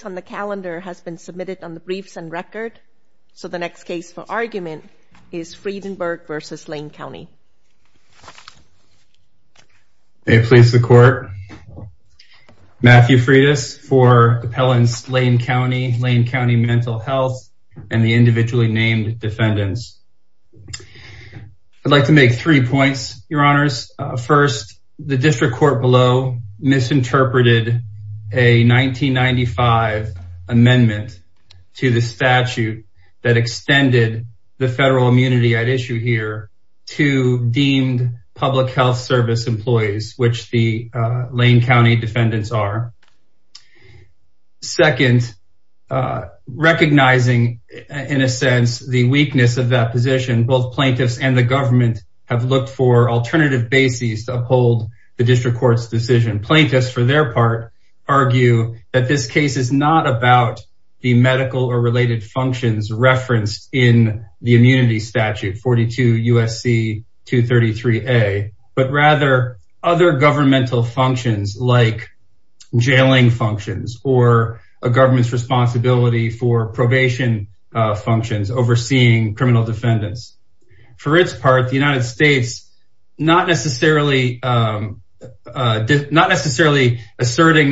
has been submitted on the briefs and record. So the next case for argument is Friedenberg v. Lane County. May it please the Court, Matthew Friedis for appellants Lane County, Lane County Mental Health, and the individually named defendants. I'd like to make three points, Your Honors. First, the district court below misinterpreted a 1995 amendment to the statute that extended the federal immunity at issue here to deemed public health service employees, which the Lane County defendants are. Second, recognizing, in a sense, the weakness of that position, both plaintiffs and the bases to uphold the district court's decision. Plaintiffs, for their part, argue that this case is not about the medical or related functions referenced in the immunity statute, 42 U.S.C. 233a, but rather other governmental functions like jailing functions or a government's responsibility for probation functions overseeing criminal defendants. For its part, the United States, not necessarily asserting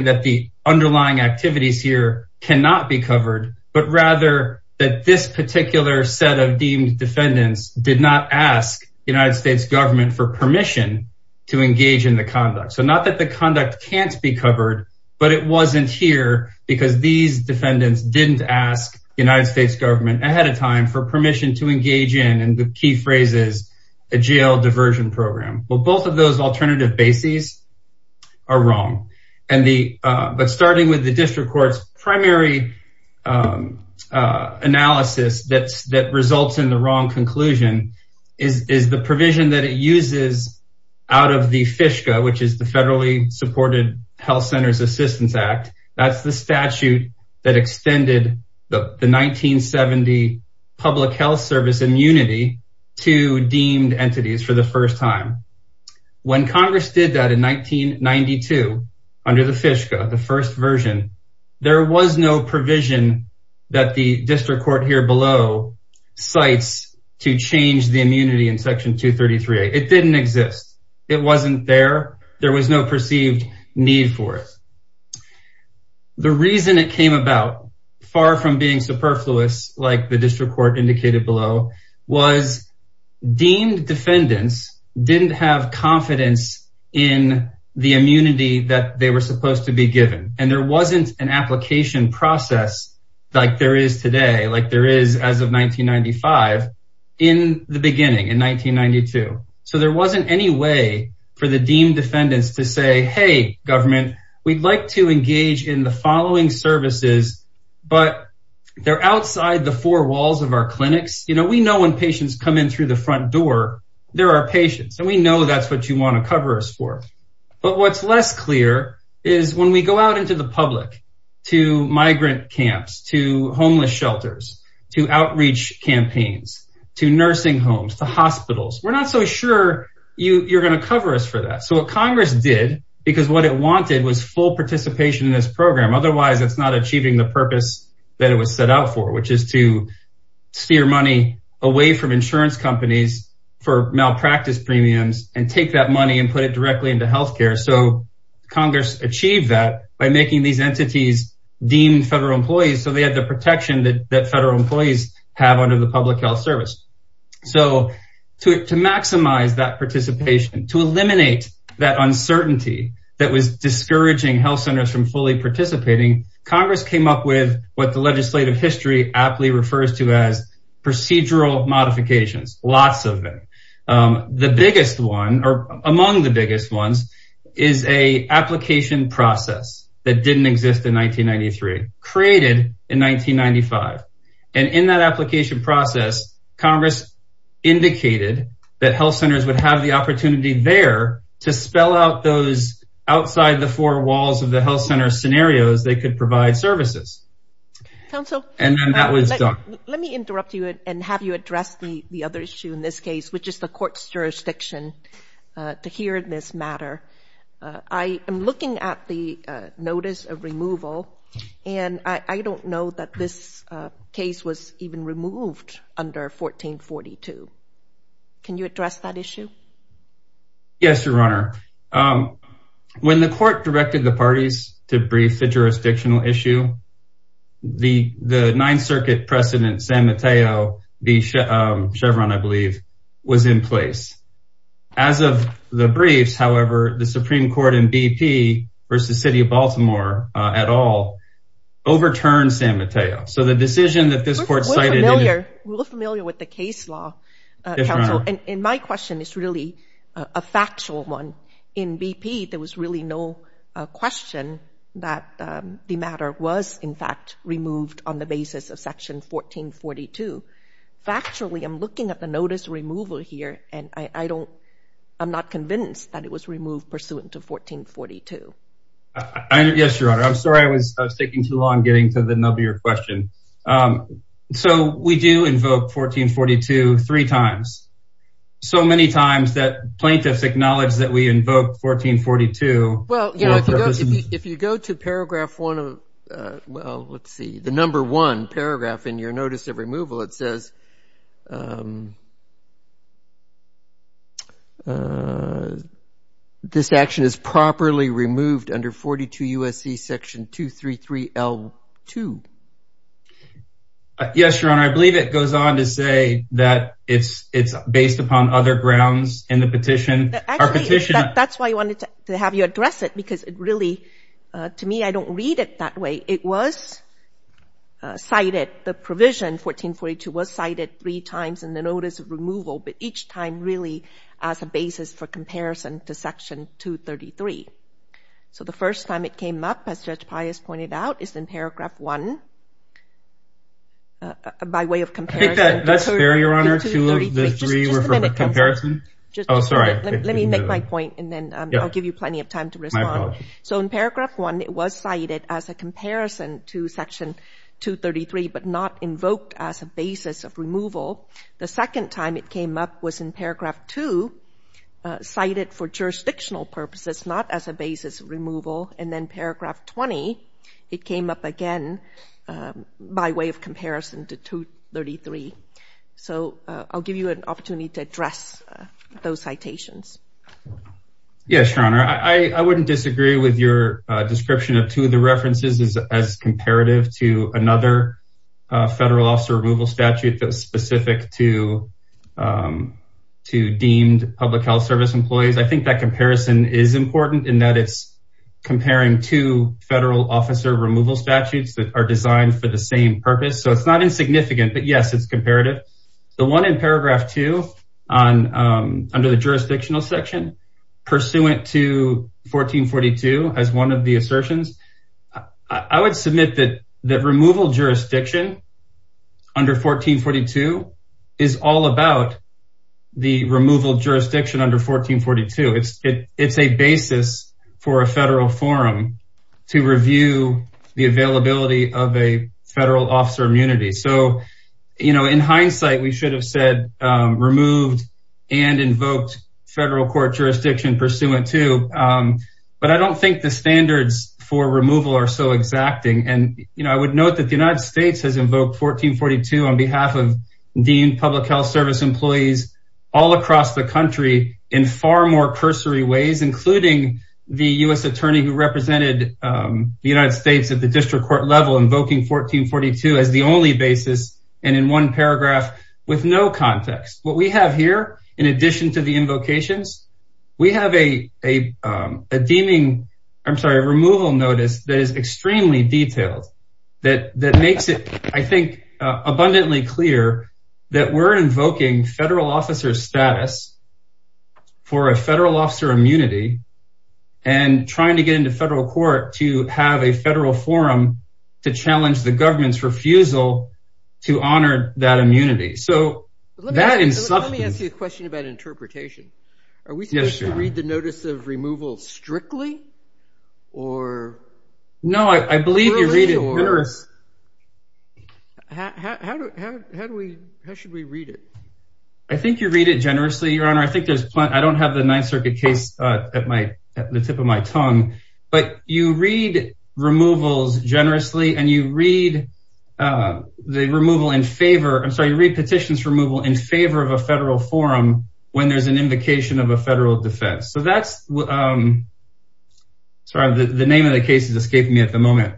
that the underlying activities here cannot be covered, but rather that this particular set of deemed defendants did not ask the United States government for permission to engage in the conduct. So not that the conduct can't be covered, but it wasn't here because these defendants didn't ask the United States government ahead of time for permission to engage in, and the key phrase is, a jail diversion program. Well, both of those alternative bases are wrong. But starting with the district court's primary analysis that results in the wrong conclusion is the provision that it uses out of the FISCA, which is the Federally Supported Health Centers Assistance Act. That's the statute that extended the 1970 public health service immunity to deemed entities for the first time. When Congress did that in 1992 under the FISCA, the first version, there was no provision that the district court here below cites to change the immunity in section 233a. It didn't exist. It wasn't there. There was no perceived need for it. The reason it came about, far from being superfluous like the district court indicated below, was deemed defendants didn't have confidence in the immunity that they were supposed to be given, and there wasn't an application process like there is today, like there is as of 1995, in the beginning, in 1992. So there wasn't any way for the deemed defendants to say, hey, government, we'd like to engage in the following services, but they're outside the four walls of our clinics. You know, we know when patients come in through the front door, they're our patients, and we know that's what you want to cover us for. But what's less clear is when we go out into the public to migrant camps, to homeless shelters, to you're going to cover us for that. So what Congress did, because what it wanted was full participation in this program, otherwise it's not achieving the purpose that it was set out for, which is to steer money away from insurance companies for malpractice premiums and take that money and put it directly into health care. So Congress achieved that by making these entities deemed federal employees, so they had the protection that federal employees have under the public health service. So to maximize that participation, to eliminate that uncertainty that was discouraging health centers from fully participating, Congress came up with what the legislative history aptly refers to as procedural modifications, lots of them. The biggest one, or among the biggest ones, is an application process that didn't exist in 1993, created in 1995. And in that application process, Congress indicated that health centers would have the opportunity there to spell out those outside the four walls of the health center scenarios they could provide services. And then that was done. Let me interrupt you and have you address the other issue in this case, which is the court's jurisdiction, to hear this matter. I am looking at the notice of removal, and I don't know that this case was even removed under 1442. Can you address that issue? Yes, Your Honor. When the court directed the parties to brief the jurisdictional issue, the Ninth Circuit president, San Mateo B. Chevron, I believe, was in place. As of the briefs, however, the Supreme Court in BP versus City of Baltimore at all overturned San Mateo. So the decision that this court cited... We're familiar with the case law, counsel. And my question is really a factual one. In BP, there was really no question that the matter was, in fact, removed on the basis of Section 1442. Factually, I'm looking at the notice of removal here, and I'm not convinced that it was removed pursuant to 1442. Yes, Your Honor. I'm sorry I was taking too long getting to the nub of your question. So we do invoke 1442 three times. So many times that plaintiffs acknowledge that we invoke 1442. Well, you know, if you go to paragraph one of... Well, let's see. The number one paragraph in your notice of removal, it says, this action is properly removed under 42 U.S.C. Section 233L2. Yes, Your Honor. I believe it goes on to say that it's based upon other grounds in the petition. Actually, that's why I wanted to have you address it because it really, to me, I don't read it that way. It was cited, the provision, 1442, was cited three times in the notice of removal, but each time really as a basis for comparison to Section 233. So the first time it came up, as Judge Pius pointed out, is in paragraph one, by way of comparison. I think that's fair, Your Honor, two of the three were for comparison. Oh, sorry. Let me make my point, and then I'll give you plenty of time to respond. My apologies. So in paragraph one, it was cited as a comparison to Section 233, but not invoked as a basis of removal. The second time it came up was in paragraph two, cited for jurisdictional purposes, not as a basis of removal. And then paragraph 20, it came up again by way of comparison to 233. So I'll give you an opportunity to address those citations. Yes, Your Honor. I wouldn't disagree with your description of two of the references as comparative to another federal officer removal statute that was specific to deemed public health service employees. I think that comparison is important in that it's comparing two federal officer removal statutes that are designed for the same purpose. So it's not insignificant, but yes, it's comparative. The one in paragraph two under the jurisdictional section, pursuant to 1442 as one of the assertions, I would submit that removal jurisdiction under 1442 is all about the removal jurisdiction under 1442. It's a basis for a federal forum to review the availability of a federal officer immunity. So in hindsight, we should have said removed and invoked federal court jurisdiction pursuant to. But I don't think the standards for removal are so exacting. And I would note that the United States has invoked 1442 on behalf of deemed public health service employees all across the country in far more cursory ways, including the U.S. And in one paragraph with no context. What we have here, in addition to the invocations, we have a deeming, I'm sorry, a removal notice that is extremely detailed that makes it, I think, abundantly clear that we're invoking federal officer status for a federal officer immunity and trying to get into federal court to have a federal forum to challenge the government's refusal to honor that immunity. So that is something. Let me ask you a question about interpretation. Are we supposed to read the notice of removal strictly or? No, I believe you read it generous. How should we read it? I think you read it generously, Your Honor. I think there's plenty. I don't have the Ninth Circuit case at the tip of my tongue, but you read removals generously and you read the removal in favor. I'm sorry. You read petitions removal in favor of a federal forum when there's an invocation of a federal defense. So that's. Sorry, the name of the case is escaping me at the moment,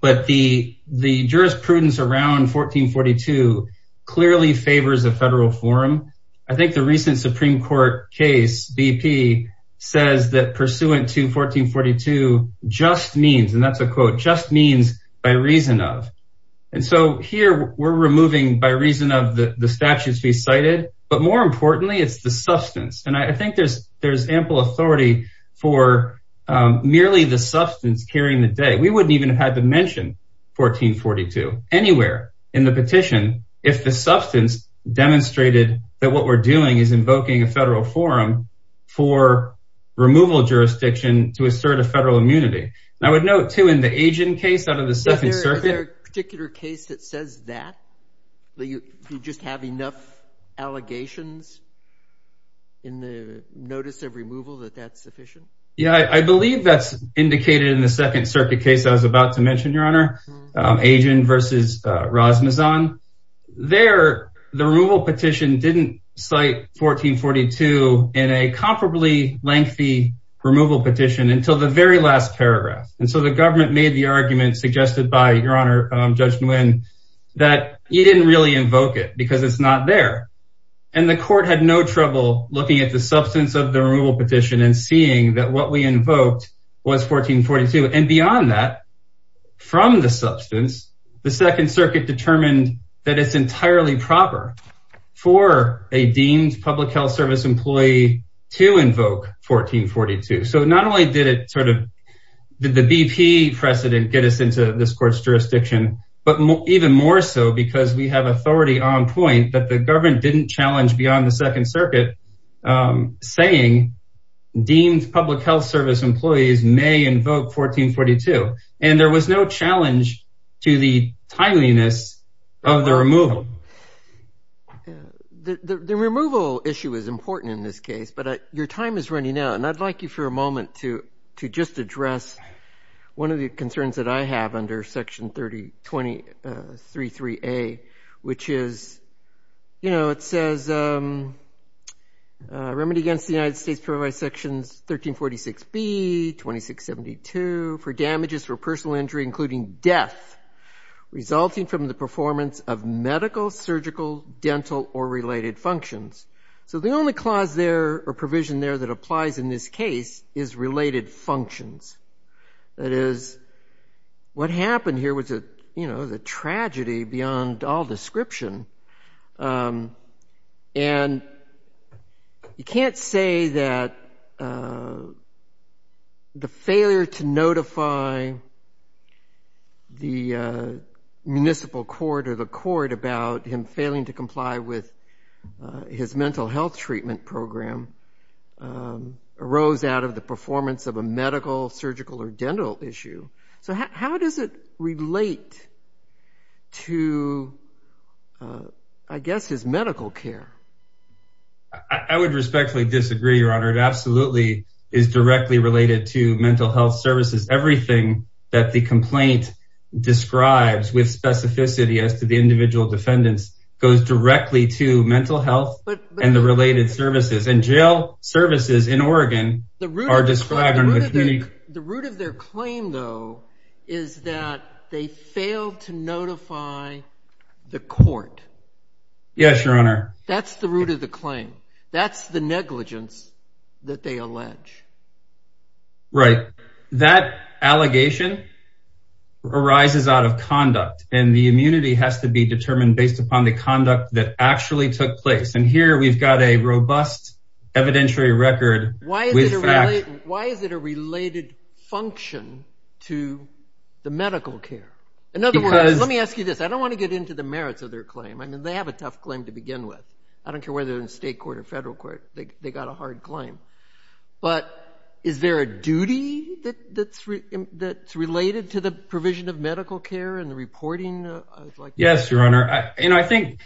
but the, the jurisprudence around 1442 clearly favors a federal forum. I think the recent Supreme court case BP says that pursuant to 1442 just means, and that's a quote just means by reason of. And so here we're removing by reason of the statutes we cited, but more importantly, it's the substance. And I think there's, there's ample authority for merely the substance carrying the day. We wouldn't even have had to mention 1442 anywhere in the petition. If the substance demonstrated that what we're doing is invoking a federal forum for removal jurisdiction to assert a federal immunity. And I would note too, in the agent case out of the second circuit. Particular case that says that. You just have enough allegations. In the notice of removal that that's sufficient. Yeah, I believe that's indicated in the second circuit case. I was about to mention your honor. Agent versus Rasmus on there. The removal petition didn't cite 1442 in a comparably lengthy removal petition until the very last paragraph. And so the government made the argument suggested by your honor judge Nguyen. That you didn't really invoke it because it's not there. And the court had no trouble looking at the substance of the removal petition and seeing that what we invoked was 1442 and beyond that. From the substance. The second circuit determined that it's entirely proper. For a deemed public health service employee to invoke 1442. So not only did it sort of. Did the BP precedent get us into this court's jurisdiction. But even more so because we have authority on point that the government didn't challenge beyond the second circuit. Saying deemed public health service employees may invoke 1442. And there was no challenge to the timeliness of the removal. The removal issue is important in this case, but your time is running out. And I'd like you for a moment to to just address one of the concerns that I against the United States provide sections 1346 B 2672 for damages for personal injury, including death resulting from the performance of medical, surgical, dental or related functions. So the only clause there or provision there that applies in this case is related functions. That is. What happened here was a you know the tragedy beyond all description. And. You can't say that. The failure to notify. The municipal court or the court about him failing to comply with his mental health treatment program. Arose out of the performance of a medical, surgical or dental issue. So how does it relate. To. I guess his medical care. I would respectfully disagree, Your Honor. It absolutely is directly related to mental health services. Everything that the complaint describes with specificity as to the individual defendants goes directly to mental health and the related services and jail services in Oregon are described. The root of their claim, though, is that they failed to notify the court. Yes, Your Honor. That's the root of the claim. That's the negligence that they allege. Right. That allegation. Arises out of conduct and the immunity has to be determined based upon the conduct that actually took place. And here we've got a robust evidentiary record. Why is it why is it a related function to the medical care? In other words, let me ask you this. I don't want to get into the merits of their claim. I mean, they have a tough claim to begin with. I don't care whether they're in state court or federal court. They got a hard claim. But is there a duty that's that's related to the provision of medical care and the reporting? Yes, Your Honor. You know, I think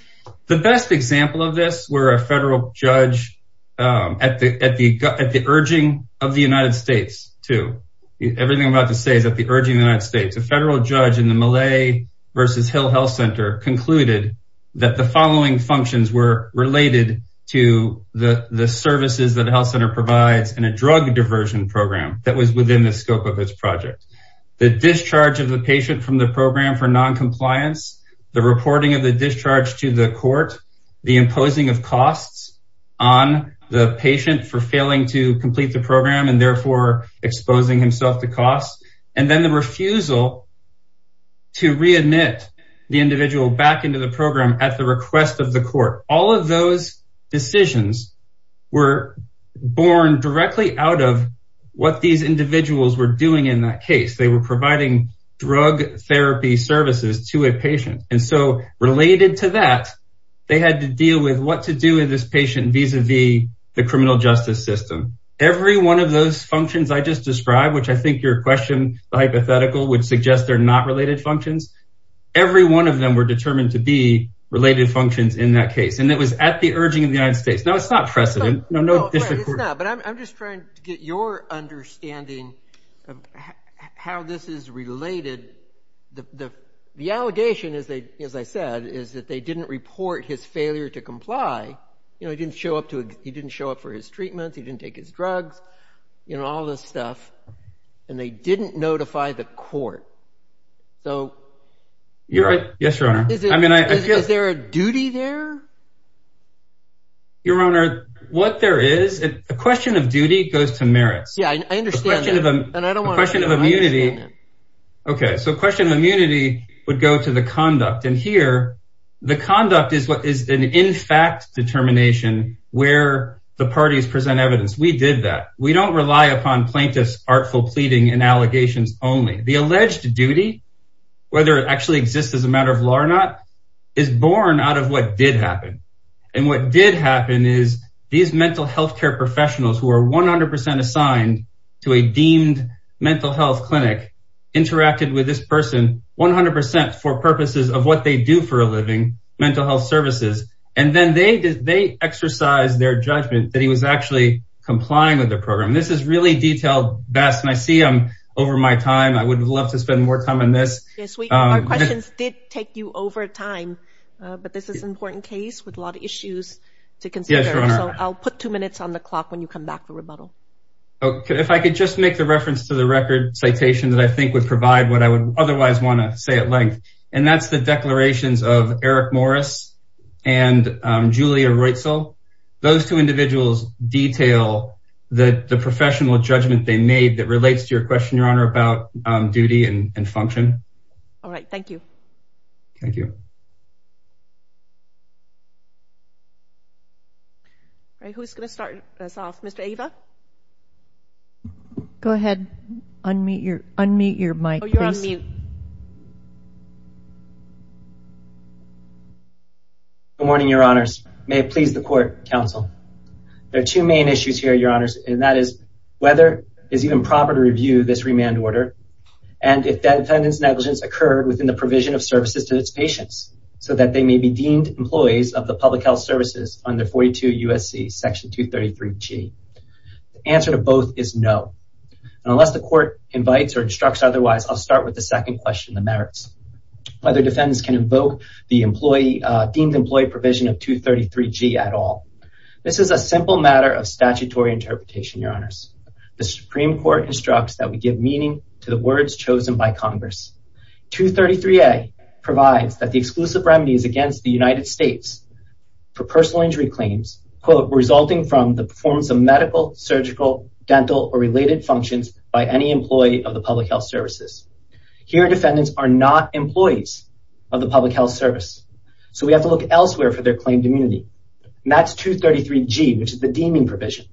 the best example of this where a federal judge at the urging of the United States to everything I'm about to say is that the urging the United States, a federal judge in the Malay versus Hill Health Center concluded that the following functions were related to the services that the health center provides and a drug diversion program that was within the scope of its project. The discharge of the patient from the program for noncompliance, the reporting of the discharge to the court, the imposing of costs on the patient for failing to complete the program and therefore exposing himself to costs. And then the refusal to readmit the individual back into the program at the request of the court. All of those decisions were born directly out of what these individuals were doing in that case. They were providing drug therapy services to a patient. And so related to that, they had to deal with what to do with this patient vis-a-vis the criminal justice system. Every one of those functions I just described, which I think your question hypothetical would suggest they're not related functions. Every one of them were determined to be related functions in that case. And it was at the urging of the United States. Now it's not precedent. No, no, it's not. But I'm just trying to get your understanding of how this is related. The allegation, as I said, is that they didn't report his failure to comply. He didn't show up for his treatments. He didn't take his drugs, all this stuff. And they didn't notify the court. Yes, Your Honor. Is there a duty there? Your Honor, what there is, a question of duty goes to merits. Yeah, I understand that. Okay, so question of immunity would go to the conduct. And here, the conduct is an in fact determination where the parties present evidence. We did that. We don't rely upon plaintiffs' artful pleading and allegations only. The alleged duty, whether it actually exists as a matter of law or not, is born out of what did happen. And what did happen is these mental health care professionals who are 100% assigned to a deemed mental health clinic interacted with this person 100% for purposes of what they do for a living, mental health services. And then they exercised their judgment that he was actually complying with their program. This is really detailed, Bess, and I see I'm over my time. I would have loved to spend more time on this. Yes, our questions did take you over time. But this is an important case with a lot of issues to consider. Yes, Your Honor. So I'll put two minutes on the clock when you come back for rebuttal. If I could just make the reference to the record citation that I think would provide what I would otherwise want to say at length. And that's the declarations of Eric Morris and Julia Reutzel. Those two individuals detail the professional judgment they made that relates to your question, Your Honor, about duty and function. All right. Thank you. Thank you. All right, who's going to start us off? Mr. Ava? Go ahead. Unmute your mic, please. Oh, you're on mute. Good morning, Your Honors. May it please the court, counsel. There are two main issues here, Your Honors, and that is whether it's even proper to review this remand order and if that defendant's negligence occurred within the provision of services to its patient. So that they may be deemed employees of the public health services under 42 USC Section 233G. The answer to both is no. And unless the court invites or instructs otherwise, I'll start with the second question, the merits. Whether defendants can invoke the deemed employee provision of 233G at all. This is a simple matter of statutory interpretation, Your Honors. The Supreme Court instructs that we give meaning to the words chosen by Congress. 233A provides that the exclusive remedies against the United States for personal injury claims, quote, resulting from the performance of medical, surgical, dental, or related functions by any employee of the public health services. Here, defendants are not employees of the public health service. So we have to look elsewhere for their claimed immunity. And that's 233G, which is the deeming provision.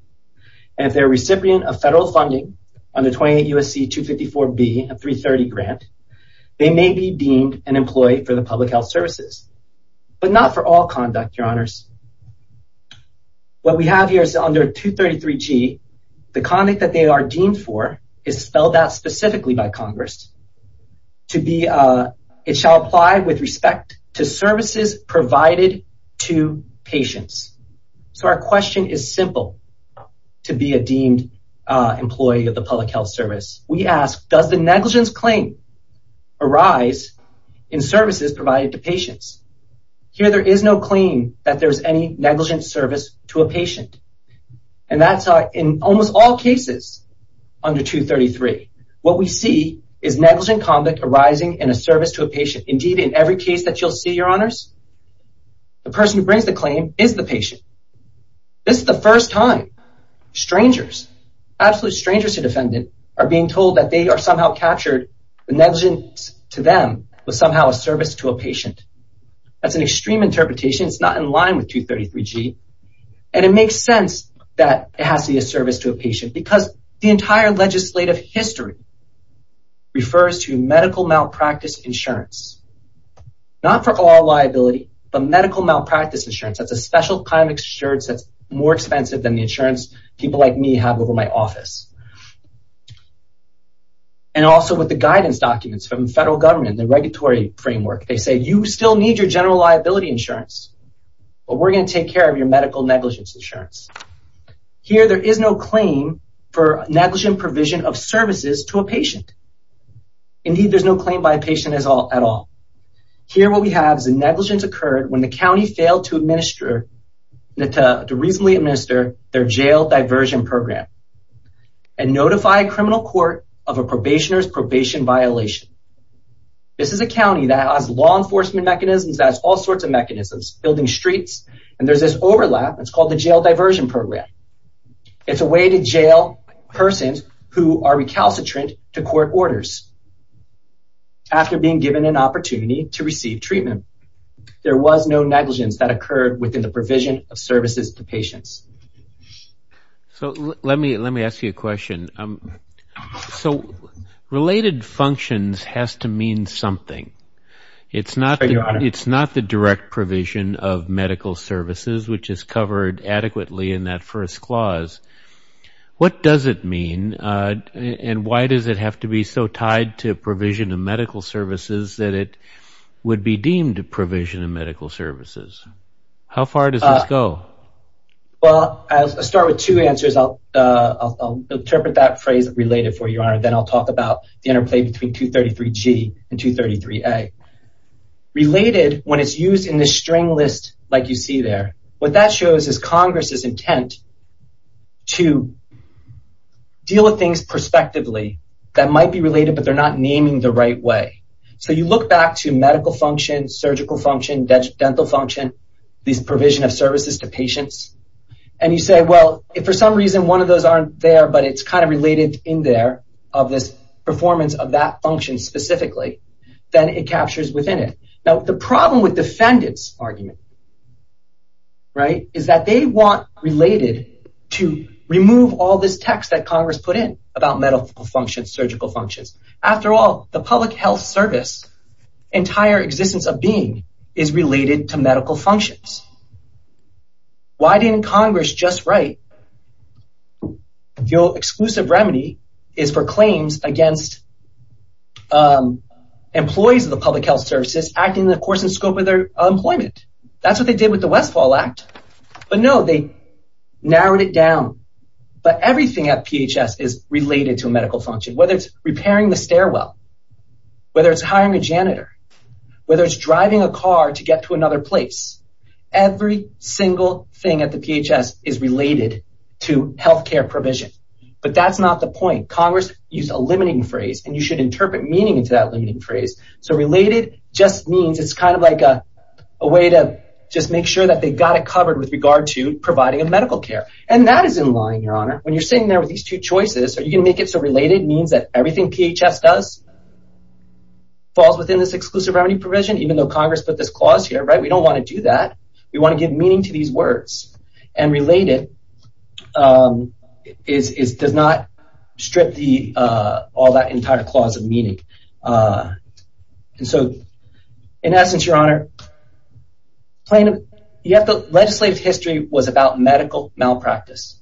And if they're a recipient of federal funding under 28 USC 254B, a 330 grant, they may be deemed an employee for the public health services, but not for all conduct, Your Honors. What we have here is under 233G, the conduct that they are deemed for is spelled out specifically by Congress to be, it shall apply with respect to services provided to patients. So our question is simple to be a deemed employee of the public health service. We ask, does the negligence claim arise in services provided to patients? Here, there is no claim that there's any negligent service to a patient. And that's in almost all cases under 233. What we see is negligent conduct arising in a service to a patient. Indeed, in every case that you'll see, Your Honors, the person who brings the claim is the patient. This is the first time strangers, absolute strangers to defendant are being told that they are somehow captured the negligence to them was somehow a service to a patient. That's an extreme interpretation. It's not in line with 233G and it makes sense that it has to be a service to a patient because the entire legislative history refers to medical malpractice insurance, not for all liability, but medical malpractice insurance. That's a special kind of insurance that's more expensive than the insurance that I have over my office. And also with the guidance documents from the federal government, the regulatory framework, they say, you still need your general liability insurance, but we're going to take care of your medical negligence insurance. Here, there is no claim for negligent provision of services to a patient. Indeed, there's no claim by a patient at all. Here, what we have is a negligence occurred when the county failed to notify a criminal court of a probationer's probation violation. This is a county that has law enforcement mechanisms, that has all sorts of mechanisms, building streets, and there's this overlap. It's called the jail diversion program. It's a way to jail persons who are recalcitrant to court orders. After being given an opportunity to receive treatment, there was no negligence that occurred within the provision of services to patients. So let me ask you a question. So related functions has to mean something. It's not the direct provision of medical services, which is covered adequately in that first clause. What does it mean, and why does it have to be so tied to provision of medical services that it would be deemed a provision of medical services? How far does this go? Well, I'll start with two answers. I'll interpret that phrase related for you, and then I'll talk about the interplay between 233G and 233A. Related, when it's used in the string list like you see there, what that shows is Congress's intent to deal with things prospectively that might be related, but they're not naming the right way. So you look back to medical function, surgical function, dental function, these provision of services to patients, and you say, well, if for some reason one of those aren't there but it's kind of related in there of this performance of that function specifically, then it captures within it. Now, the problem with defendant's argument is that they want related to remove all this text that Congress put in about medical functions, surgical functions. After all, the public health service, entire existence of being is related to medical functions. Why didn't Congress just write your exclusive remedy is for claims against employees of the public health services acting in the course and scope of their employment? That's what they did with the Westfall Act. But, no, they narrowed it down. But everything at PHS is related to a medical function, whether it's repairing the stairwell, whether it's hiring a janitor, whether it's driving a car to get to another place. Every single thing at the PHS is related to healthcare provision. But that's not the point. Congress used a limiting phrase, and you should interpret meaning into that limiting phrase. So related just means it's kind of like a way to just make sure that they've got it covered with regard to providing a medical care. And that is in line, Your Honor. When you're sitting there with these two choices, are you going to make it so related means that everything PHS does falls within this exclusive remedy provision, even though Congress put this clause here, right? We don't want to do that. We want to give meaning to these words. And related does not strip all that entire clause of meaning. And so, in essence, Your Honor, legislative history was about medical malpractice.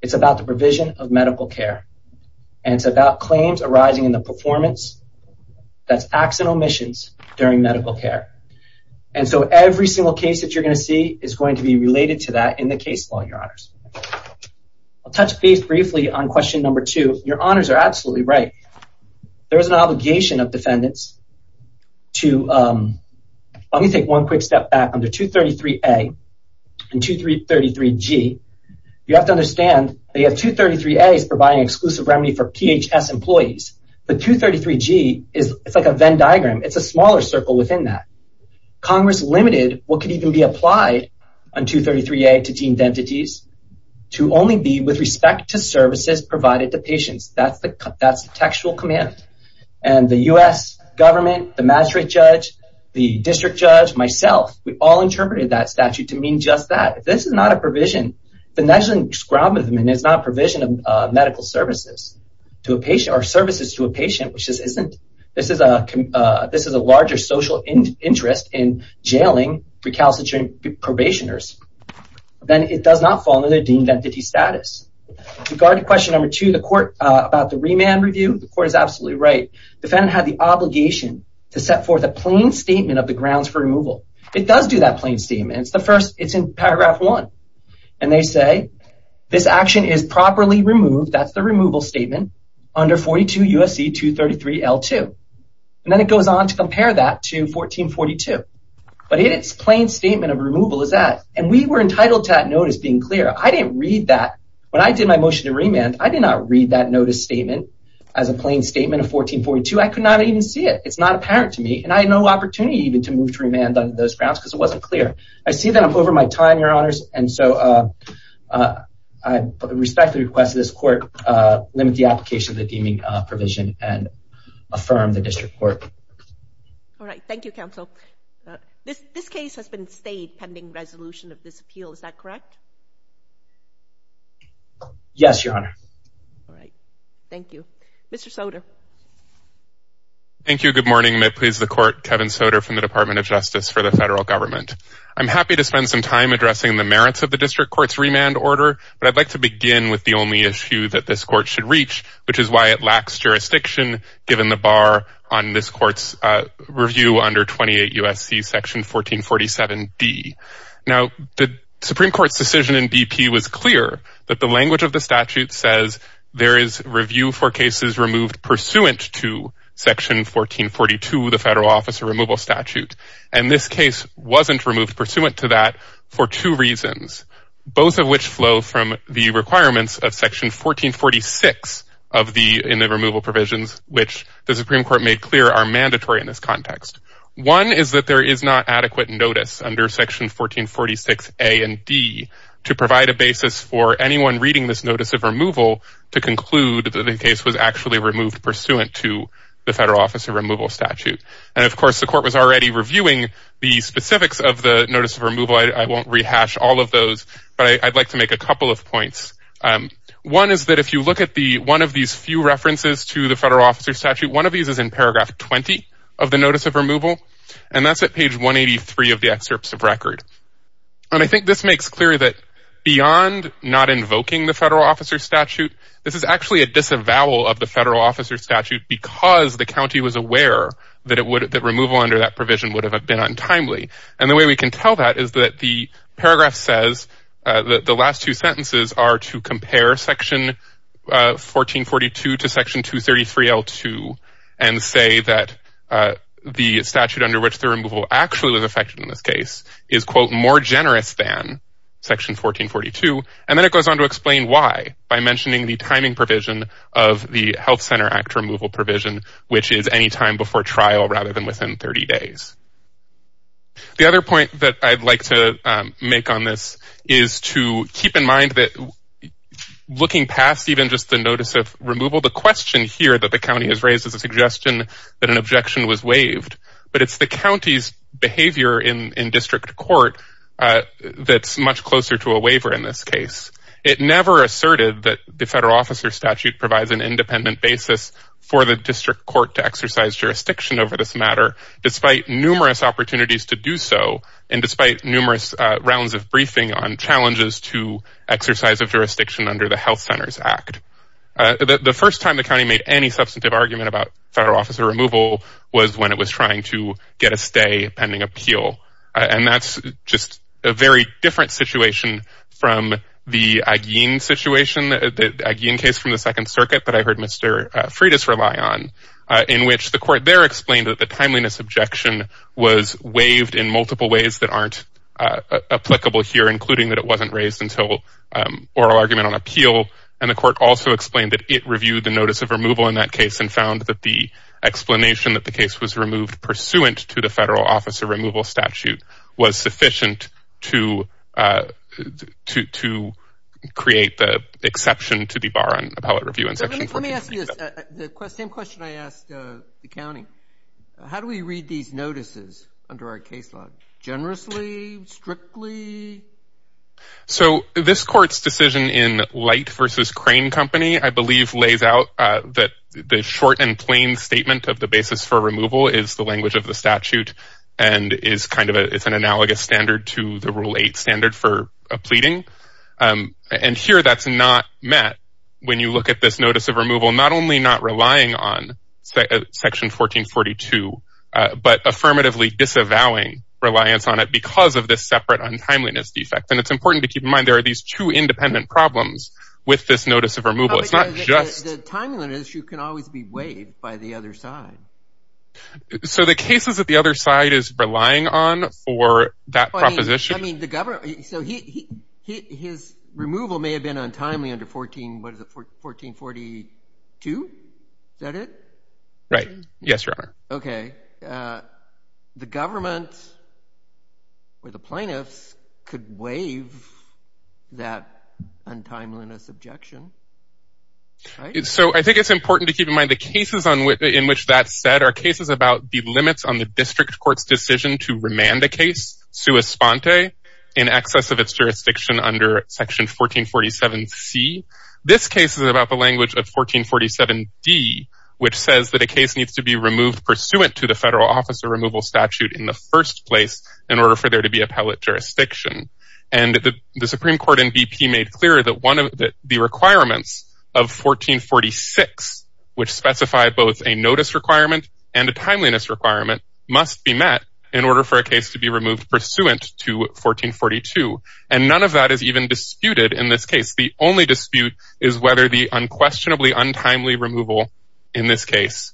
It's about the provision of medical care. And it's about claims arising in the performance. That's acts and omissions during medical care. And so every single case that you're going to see is going to be related to that in the case law, Your Honors. I'll touch base briefly on question number two. Your Honors are absolutely right. There is an obligation of defendants to – let me take one quick step back. Under 233a and 233g, you have to understand that you have 233a as providing exclusive remedy for PHS employees. But 233g is like a Venn diagram. It's a smaller circle within that. Congress limited what could even be applied on 233a to deemed entities to only be with respect to services provided to patients. That's the textual command. And the U.S. government, the magistrate judge, the district judge, myself, we all interpreted that statute to mean just that. If this is not a provision, then that's an exclamation. It's not a provision of medical services to a patient or services to a patient, which this isn't. This is a larger social interest in jailing recalcitrant probationers. Then it does not fall under the deemed entity status. With regard to question number two about the remand review, the court is absolutely right. The defendant had the obligation to set forth a plain statement of the grounds for removal. It does do that plain statement. It's in paragraph one. And they say, this action is properly removed, that's the removal statement, under 42 U.S.C. 233L2. And then it goes on to compare that to 1442. But its plain statement of removal is that. And we were entitled to that notice being clear. When I did my motion to remand, I did not read that notice statement as a plain statement of 1442. I could not even see it. It's not apparent to me. And I had no opportunity even to move to remand under those grounds because it wasn't clear. I see that I'm over my time, Your Honors, and so I respectfully request that this court limit the application of the deeming provision and affirm the district court. All right. Thank you, counsel. This case has been stayed pending resolution of this appeal. Is that correct? Yes, Your Honor. All right. Thank you. Mr. Soder. Thank you. Good morning. May it please the Court, Kevin Soder from the Department of Justice for the Federal Government. I'm happy to spend some time addressing the merits of the district court's remand order, but I'd like to begin with the only issue that this court should reach, which is why it lacks jurisdiction, given the bar on this court's review under 28 U.S.C. section 1447D. Now, the Supreme Court's decision in BP was clear that the language of the statute says there is review for cases removed pursuant to section 1442, the Federal Office of Removal Statute, and this case wasn't removed pursuant to that for two reasons, both of which flow from the requirements of section 1446 in the removal provisions, which the Supreme Court made clear are mandatory in this context. One is that there is not adequate notice under section 1446A and D to allow for anyone reading this notice of removal to conclude that the case was actually removed pursuant to the Federal Office of Removal Statute. And, of course, the court was already reviewing the specifics of the notice of removal. I won't rehash all of those, but I'd like to make a couple of points. One is that if you look at one of these few references to the Federal Officer's Statute, one of these is in paragraph 20 of the notice of removal, and that's at page 183 of the excerpts of record. And I think this makes clear that beyond not invoking the Federal Officer's Statute, this is actually a disavowal of the Federal Officer's Statute because the county was aware that removal under that provision would have been untimely. And the way we can tell that is that the paragraph says that the last two sentences are to compare section 1442 to section 233L2 and say that the county is, quote, more generous than section 1442. And then it goes on to explain why by mentioning the timing provision of the Health Center Act removal provision, which is any time before trial rather than within 30 days. The other point that I'd like to make on this is to keep in mind that looking past even just the notice of removal, the question here that the county has raised is a suggestion that an objection was waived, but it's the county's waiver in district court that's much closer to a waiver in this case. It never asserted that the Federal Officer's Statute provides an independent basis for the district court to exercise jurisdiction over this matter, despite numerous opportunities to do so and despite numerous rounds of briefing on challenges to exercise of jurisdiction under the Health Centers Act. The first time the county made any substantive argument about Federal it was trying to get a stay pending appeal. And that's just a very different situation from the Aguin case from the Second Circuit that I heard Mr. Freitas rely on, in which the court there explained that the timeliness objection was waived in multiple ways that aren't applicable here, including that it wasn't raised until oral argument on appeal. And the court also explained that it reviewed the notice of removal in that case and found that the explanation that the case was removed pursuant to the Federal Officer Removal Statute was sufficient to create the exception to the bar on appellate review in Section 14. Let me ask you this. The same question I asked the county. How do we read these notices under our case law? Generously? Strictly? So this court's decision in Light v. Crane Company, I believe, lays out that the short and plain statement of the basis for removal is the language of the statute and is kind of an analogous standard to the Rule 8 standard for a pleading. And here that's not met when you look at this notice of removal, not only not relying on Section 1442, but affirmatively disavowing reliance on it because of this separate untimeliness defect. And it's important to keep in mind there are these two independent problems with this notice of removal. It's not just. The timeliness issue can always be weighed by the other side. So the cases that the other side is relying on for that proposition. I mean, the government. So his removal may have been untimely under 14, what is it, 1442? Is that it? Right. Yes, Your Honor. Okay. The government or the plaintiffs could waive that untimeliness objection. So I think it's important to keep in mind the cases in which that's said are cases about the limits on the district court's decision to remand a case sua sponte in excess of its jurisdiction under Section 1447C. This case is about the language of 1447D, which says that a case needs to be statute in the first place in order for there to be appellate jurisdiction. And the Supreme Court in BP made clear that the requirements of 1446, which specify both a notice requirement and a timeliness requirement, must be met in order for a case to be removed pursuant to 1442. And none of that is even disputed in this case. The only dispute is whether the unquestionably untimely removal in this case,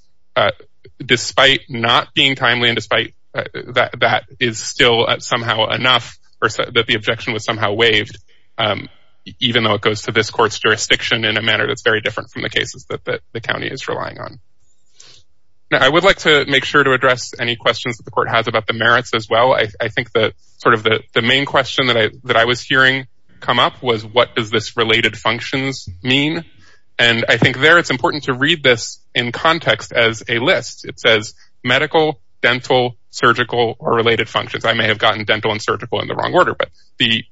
despite not being timely, and despite that is still somehow enough or that the objection was somehow waived, even though it goes to this court's jurisdiction in a manner that's very different from the cases that the county is relying on. Now, I would like to make sure to address any questions that the court has about the merits as well. I think that sort of the main question that I was hearing come up was, what does this related functions mean? And I think there it's important to read this in context as a list. It says medical, dental, surgical, or related functions. I may have gotten dental and surgical in the wrong order, but the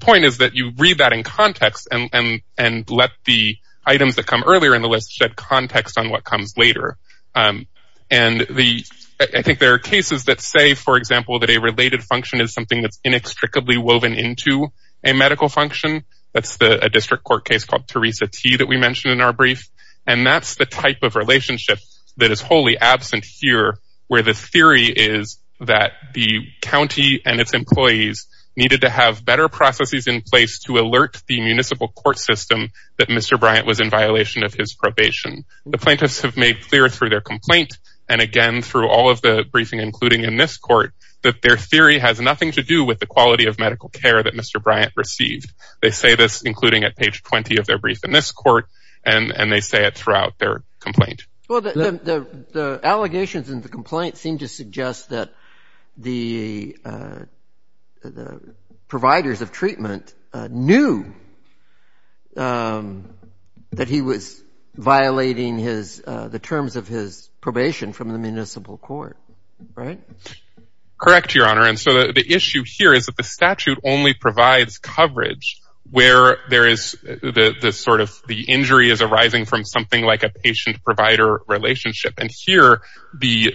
point is that you read that in context and let the items that come earlier in the list shed context on what comes later. And I think there are cases that say, for example, that a related function is something that's inextricably woven into a medical function. That's the district court case called Teresa T that we mentioned in our brief. And that's the type of relationship that is wholly absent here, where the theory is that the county and its employees needed to have better processes in place to alert the municipal court system that Mr. Bryant was in violation of his probation. The plaintiffs have made clear through their complaint. And again, through all of the briefing, including in this court that their theory has nothing to do with the quality of medical care that Mr. Bryant received. They say this, including at page 20 of their brief in this court, and they say it throughout their complaint. Well, the allegations in the complaint seem to suggest that the providers of treatment knew that he was violating the terms of his probation from the municipal court, right? Correct, Your Honor. And so the issue here is that the statute only provides coverage where there is the sort of the injury is arising from something like a patient provider relationship. And here the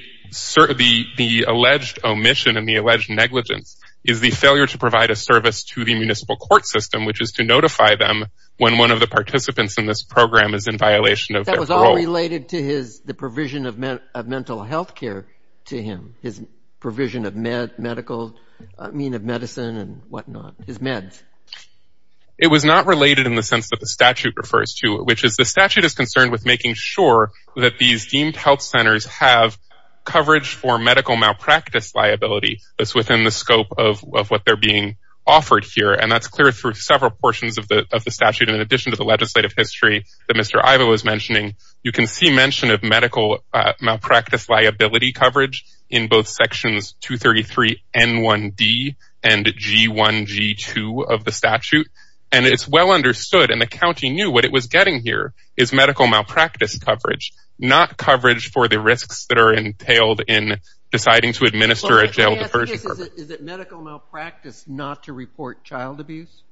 alleged omission and the alleged negligence is the failure to provide a service to the municipal court system, which is to notify them when one of the participants in this program is in violation of their role. That was all related to the provision of mental health care to him, his provision of medical, I mean, of medicine and whatnot, his meds. It was not related in the sense that the statute refers to, which is the statute is concerned with making sure that these deemed health centers have coverage for medical malpractice liability. That's within the scope of what they're being offered here. And that's clear through several portions of the statute. And in addition to the legislative history that Mr. Ivo was mentioning, you can see mention of medical malpractice liability coverage in both sections, two 33 and one D and G one G two of the statute. And it's well understood. And the County knew what it was getting here is medical malpractice coverage, not coverage for the risks that are entailed in deciding to administer a jail. Is it medical malpractice not to report child abuse?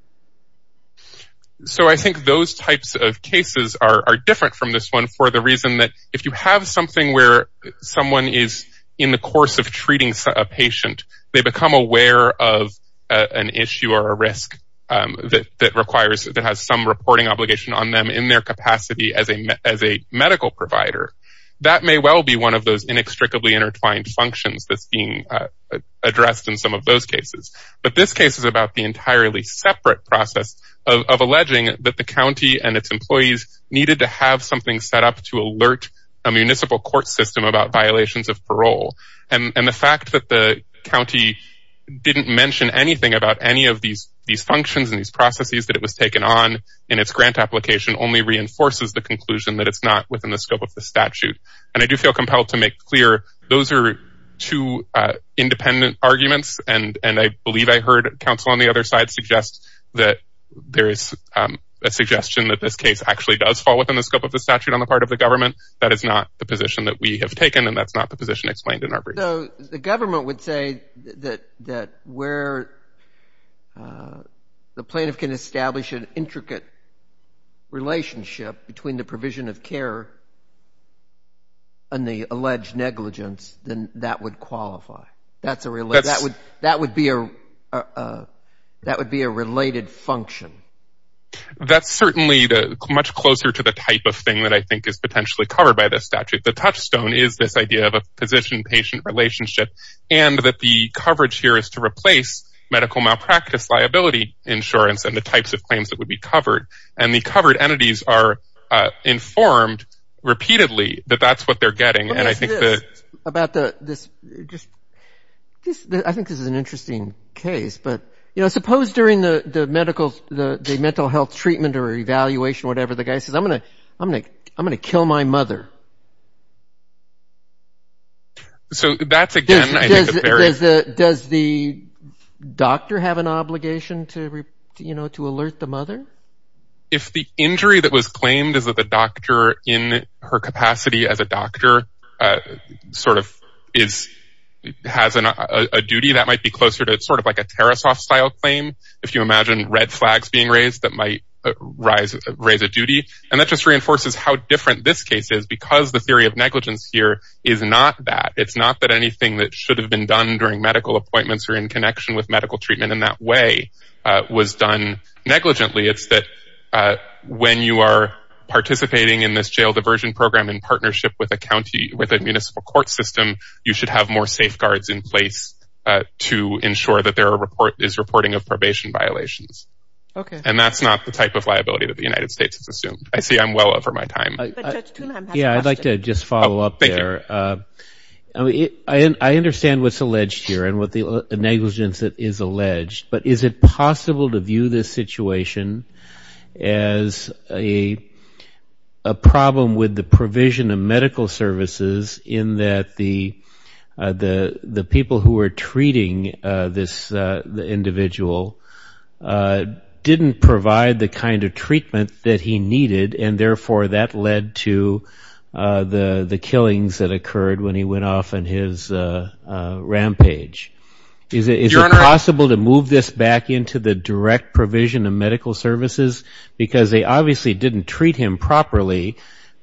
So I think those types of cases are different from this one for the reason that if you have something where someone is in the course of treating a patient, they become aware of an issue or a risk that, that requires that has some reporting obligation on them in their capacity as a, as a medical provider, that may well be one of those inextricably intertwined functions that's being addressed in some of those cases. But this case is about the entirely separate process of, of alleging that the County and its employees needed to have something set up to alert a municipal court system about violations of parole. And the fact that the County didn't mention anything about any of these, these functions and these processes that it was taken on in its grant application only reinforces the conclusion that it's not within the scope of the statute. And I do feel compelled to make clear those are two independent arguments. And, and I believe I heard counsel on the other side suggests that there is a suggestion that this case actually does fall within the scope of the statute on the part of the government. That is not the position that we have taken. And that's not the position explained in our brief. The government would say that, that where the plaintiff can establish an intricate relationship between the provision of care and the alleged negligence, then that would qualify. That's a real, that would, that would be a, that would be a related function. That's certainly the much closer to the type of thing that I think is potentially covered by this statute. The touchstone is this idea of a position patient relationship and that the coverage here is to replace medical malpractice, liability insurance and the types of claims that would be covered. And the covered entities are informed repeatedly that that's what they're getting. And I think that about the, this just, I think this is an interesting case, but you know, suppose during the medical, the mental health treatment or evaluation, whatever the guy says, I'm going to, I'm going to, I'm going to kill my mother. So that's again, does the doctor have an obligation to, you know, to alert the mother? If the injury that was claimed is that the doctor in her capacity as a doctor sort of is, has a duty that might be closer to sort of like a Tara soft style claim. If you imagine red flags being raised, that might rise, raise a duty. And that just reinforces how different this case is because the theory of negligence here is not that it's not that anything that should have been done during medical appointments or in connection with medical treatment in that way was done negligently. It's that when you are participating in this jail diversion program in a county with a municipal court system, you should have more safeguards in place to ensure that there are report is reporting of probation violations. Okay. And that's not the type of liability that the United States has assumed. I see I'm well over my time. Yeah. I'd like to just follow up there. I mean, I understand what's alleged here and what the negligence that is alleged, but is it possible to view this situation as a, a problem with the provision of medical services in that the, the, the people who are treating this individual didn't provide the kind of treatment that he needed. And therefore that led to the killings that occurred when he went off in his rampage. Is it possible to move this back into the direct provision of medical services because they obviously didn't treat him properly,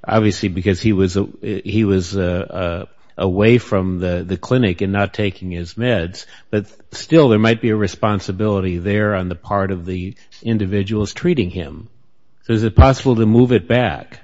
obviously because he was, he was away from the clinic and not taking his meds, but still there might be a responsibility there on the part of the individuals treating him. So is it possible to move it back?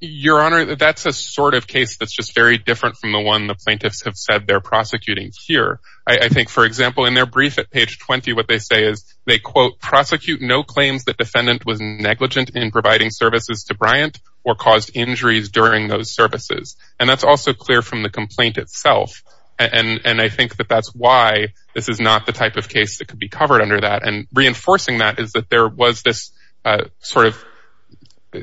Your honor, that's a sort of case that's just very different from the one the plaintiffs have said they're prosecuting here. I think for example, in their brief at page 20, what they say is they quote prosecute no claims that defendant was negligent in providing services to Bryant or caused injuries during those services. And that's also clear from the complaint itself. And, and I think that that's why this is not the type of case that could be covered under that. And reinforcing that is that there was this sort of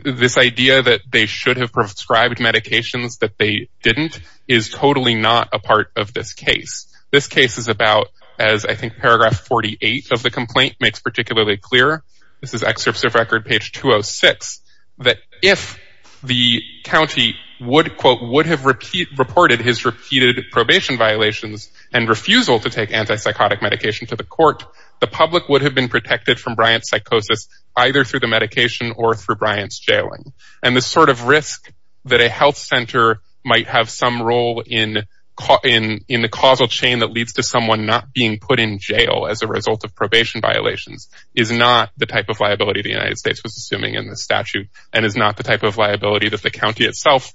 this idea that they should have prescribed medications that they didn't is totally not a part of this case. This case is about as I think paragraph 48 of the complaint makes particularly clear. This is excerpts of record page 206, that if the county would quote would have repeat reported his repeated probation violations and refusal to take antipsychotic medication to the court, the public would have been protected from Bryant's psychosis either through the medication or through Bryant's jailing. And the sort of risk that a health center might have some role in caught in, in the causal chain that leads to someone not being put in jail as a result of probation violations is not the type of liability the United States was assuming in the statute and is not the type of liability that the county itself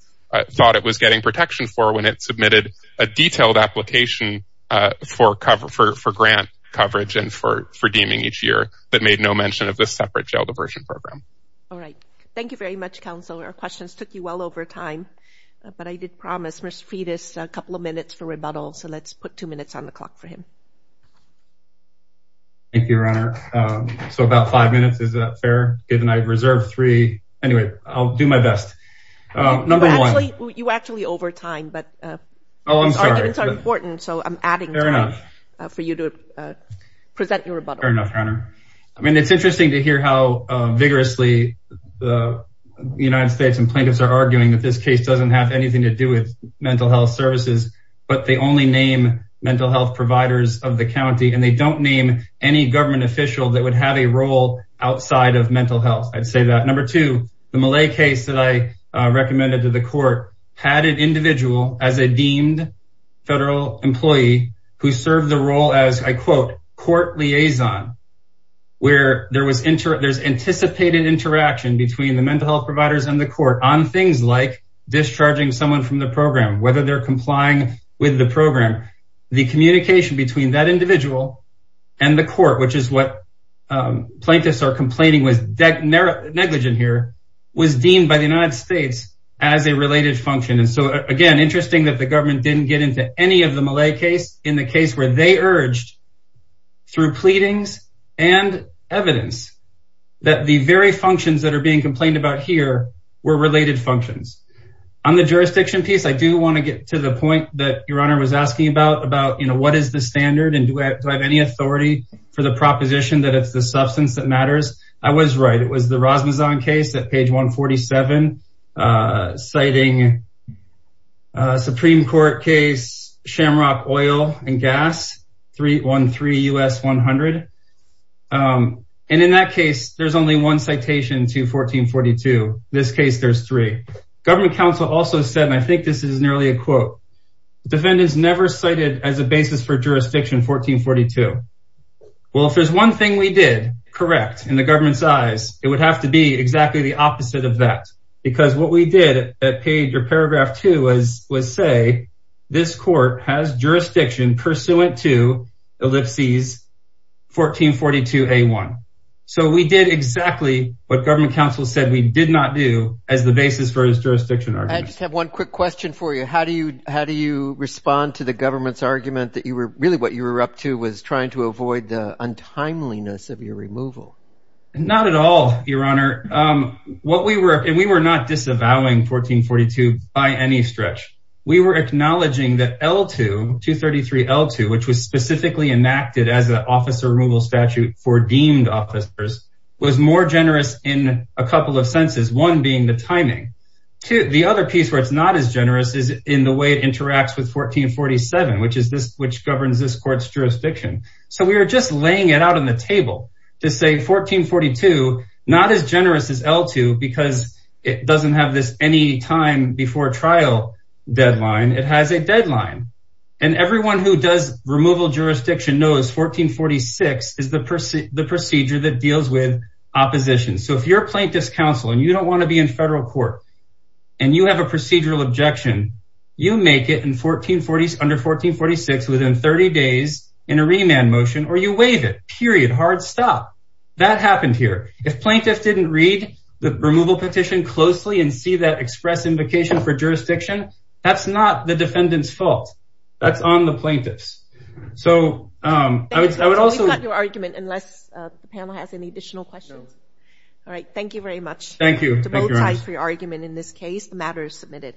thought it was getting protection for when it submitted a detailed application for cover for, for grant coverage and for redeeming each year that made no mention of this separate jail diversion program. All right. Thank you very much. Counselor questions took you well over time, but I did promise Mr. Fetus a couple of minutes for rebuttal. So let's put two minutes on the clock for him. Thank you, your honor. So about five minutes, is that fair? Good. And I reserved three. Anyway, I'll do my best. Number one, you actually over time, but, Oh, I'm sorry. It's important. So I'm adding for you to present your rebuttal. Fair enough. I mean, it's interesting to hear how vigorously the United States and plaintiffs are working together. it's interesting to hear that the United States doesn't have anything to do with mental health services, but they only name mental health providers of the County and they don't name any government official that would have a role outside of mental health. I'd say that number two, the Malay case that I recommended to the court, had an individual as a deemed. Federal employee who served the role as I quote court liaison. Where there was inter there's anticipated interaction between the mental health providers and the court on things like discharging someone from the program, whether they're complying with the program, the communication between that individual and the court, which is what. Plaintiffs are complaining was debt. Negligent here was deemed by the United States as a related function. And so again, interesting that the government didn't get into any of the Malay case in the case where they urged. Through pleadings and evidence. That the very functions that are being complained about here were related functions. On the jurisdiction piece. I do want to get to the point that your honor was asking about, about, you know, what is the standard and do I have any authority for the proposition that it's the substance that matters? I was right. It was the Rasmussen case that page one 47. Citing. Supreme court case Shamrock oil and gas. Three one, three us 100. And in that case, there's only one citation to 1442. This case there's three government council also said, and I think this is nearly a quote. The defendants never cited as a basis for jurisdiction, 1442. Well, if there's one thing we did correct in the government's eyes, it would have to be exactly the opposite of that. Because what we did at page or paragraph two was, was say. This court has jurisdiction pursuant to ellipses. 1442 a one. So we did exactly what government council said. We did not do as the basis for his jurisdiction. I just have one quick question for you. How do you, how do you respond to the government's argument that you were really what you were up to was trying to avoid the untimeliness of your removal. Not at all. Your honor. What we were, and we were not disavowing 1442 by any stretch. We were acknowledging that L two two 33 L two, which was specifically enacted as an officer removal statute for deemed officers was more generous in a couple of senses. One being the timing to the other piece where it's not as generous as in the way it interacts with 1447, which is this, which governs this court's jurisdiction. So we were just laying it out on the table to say 1442, not as generous as L two, Because it doesn't have this any time before trial deadline. It has a deadline. And everyone who does removal jurisdiction knows 1446 is the person, the procedure that deals with opposition. So if you're a plaintiff's counsel and you don't want to be in federal court, And you have a procedural objection, you make it in 1440s under 1446, within 30 days in a remand motion, or you wave it period, hard stop. That happened here. If plaintiffs didn't read the removal petition closely and see that express invocation for jurisdiction, that's not the defendant's fault. That's on the plaintiffs. So I would, I would also have your argument unless the panel has any additional questions. All right. Thank you very much. Thank you. For your argument in this case, the matter is submitted.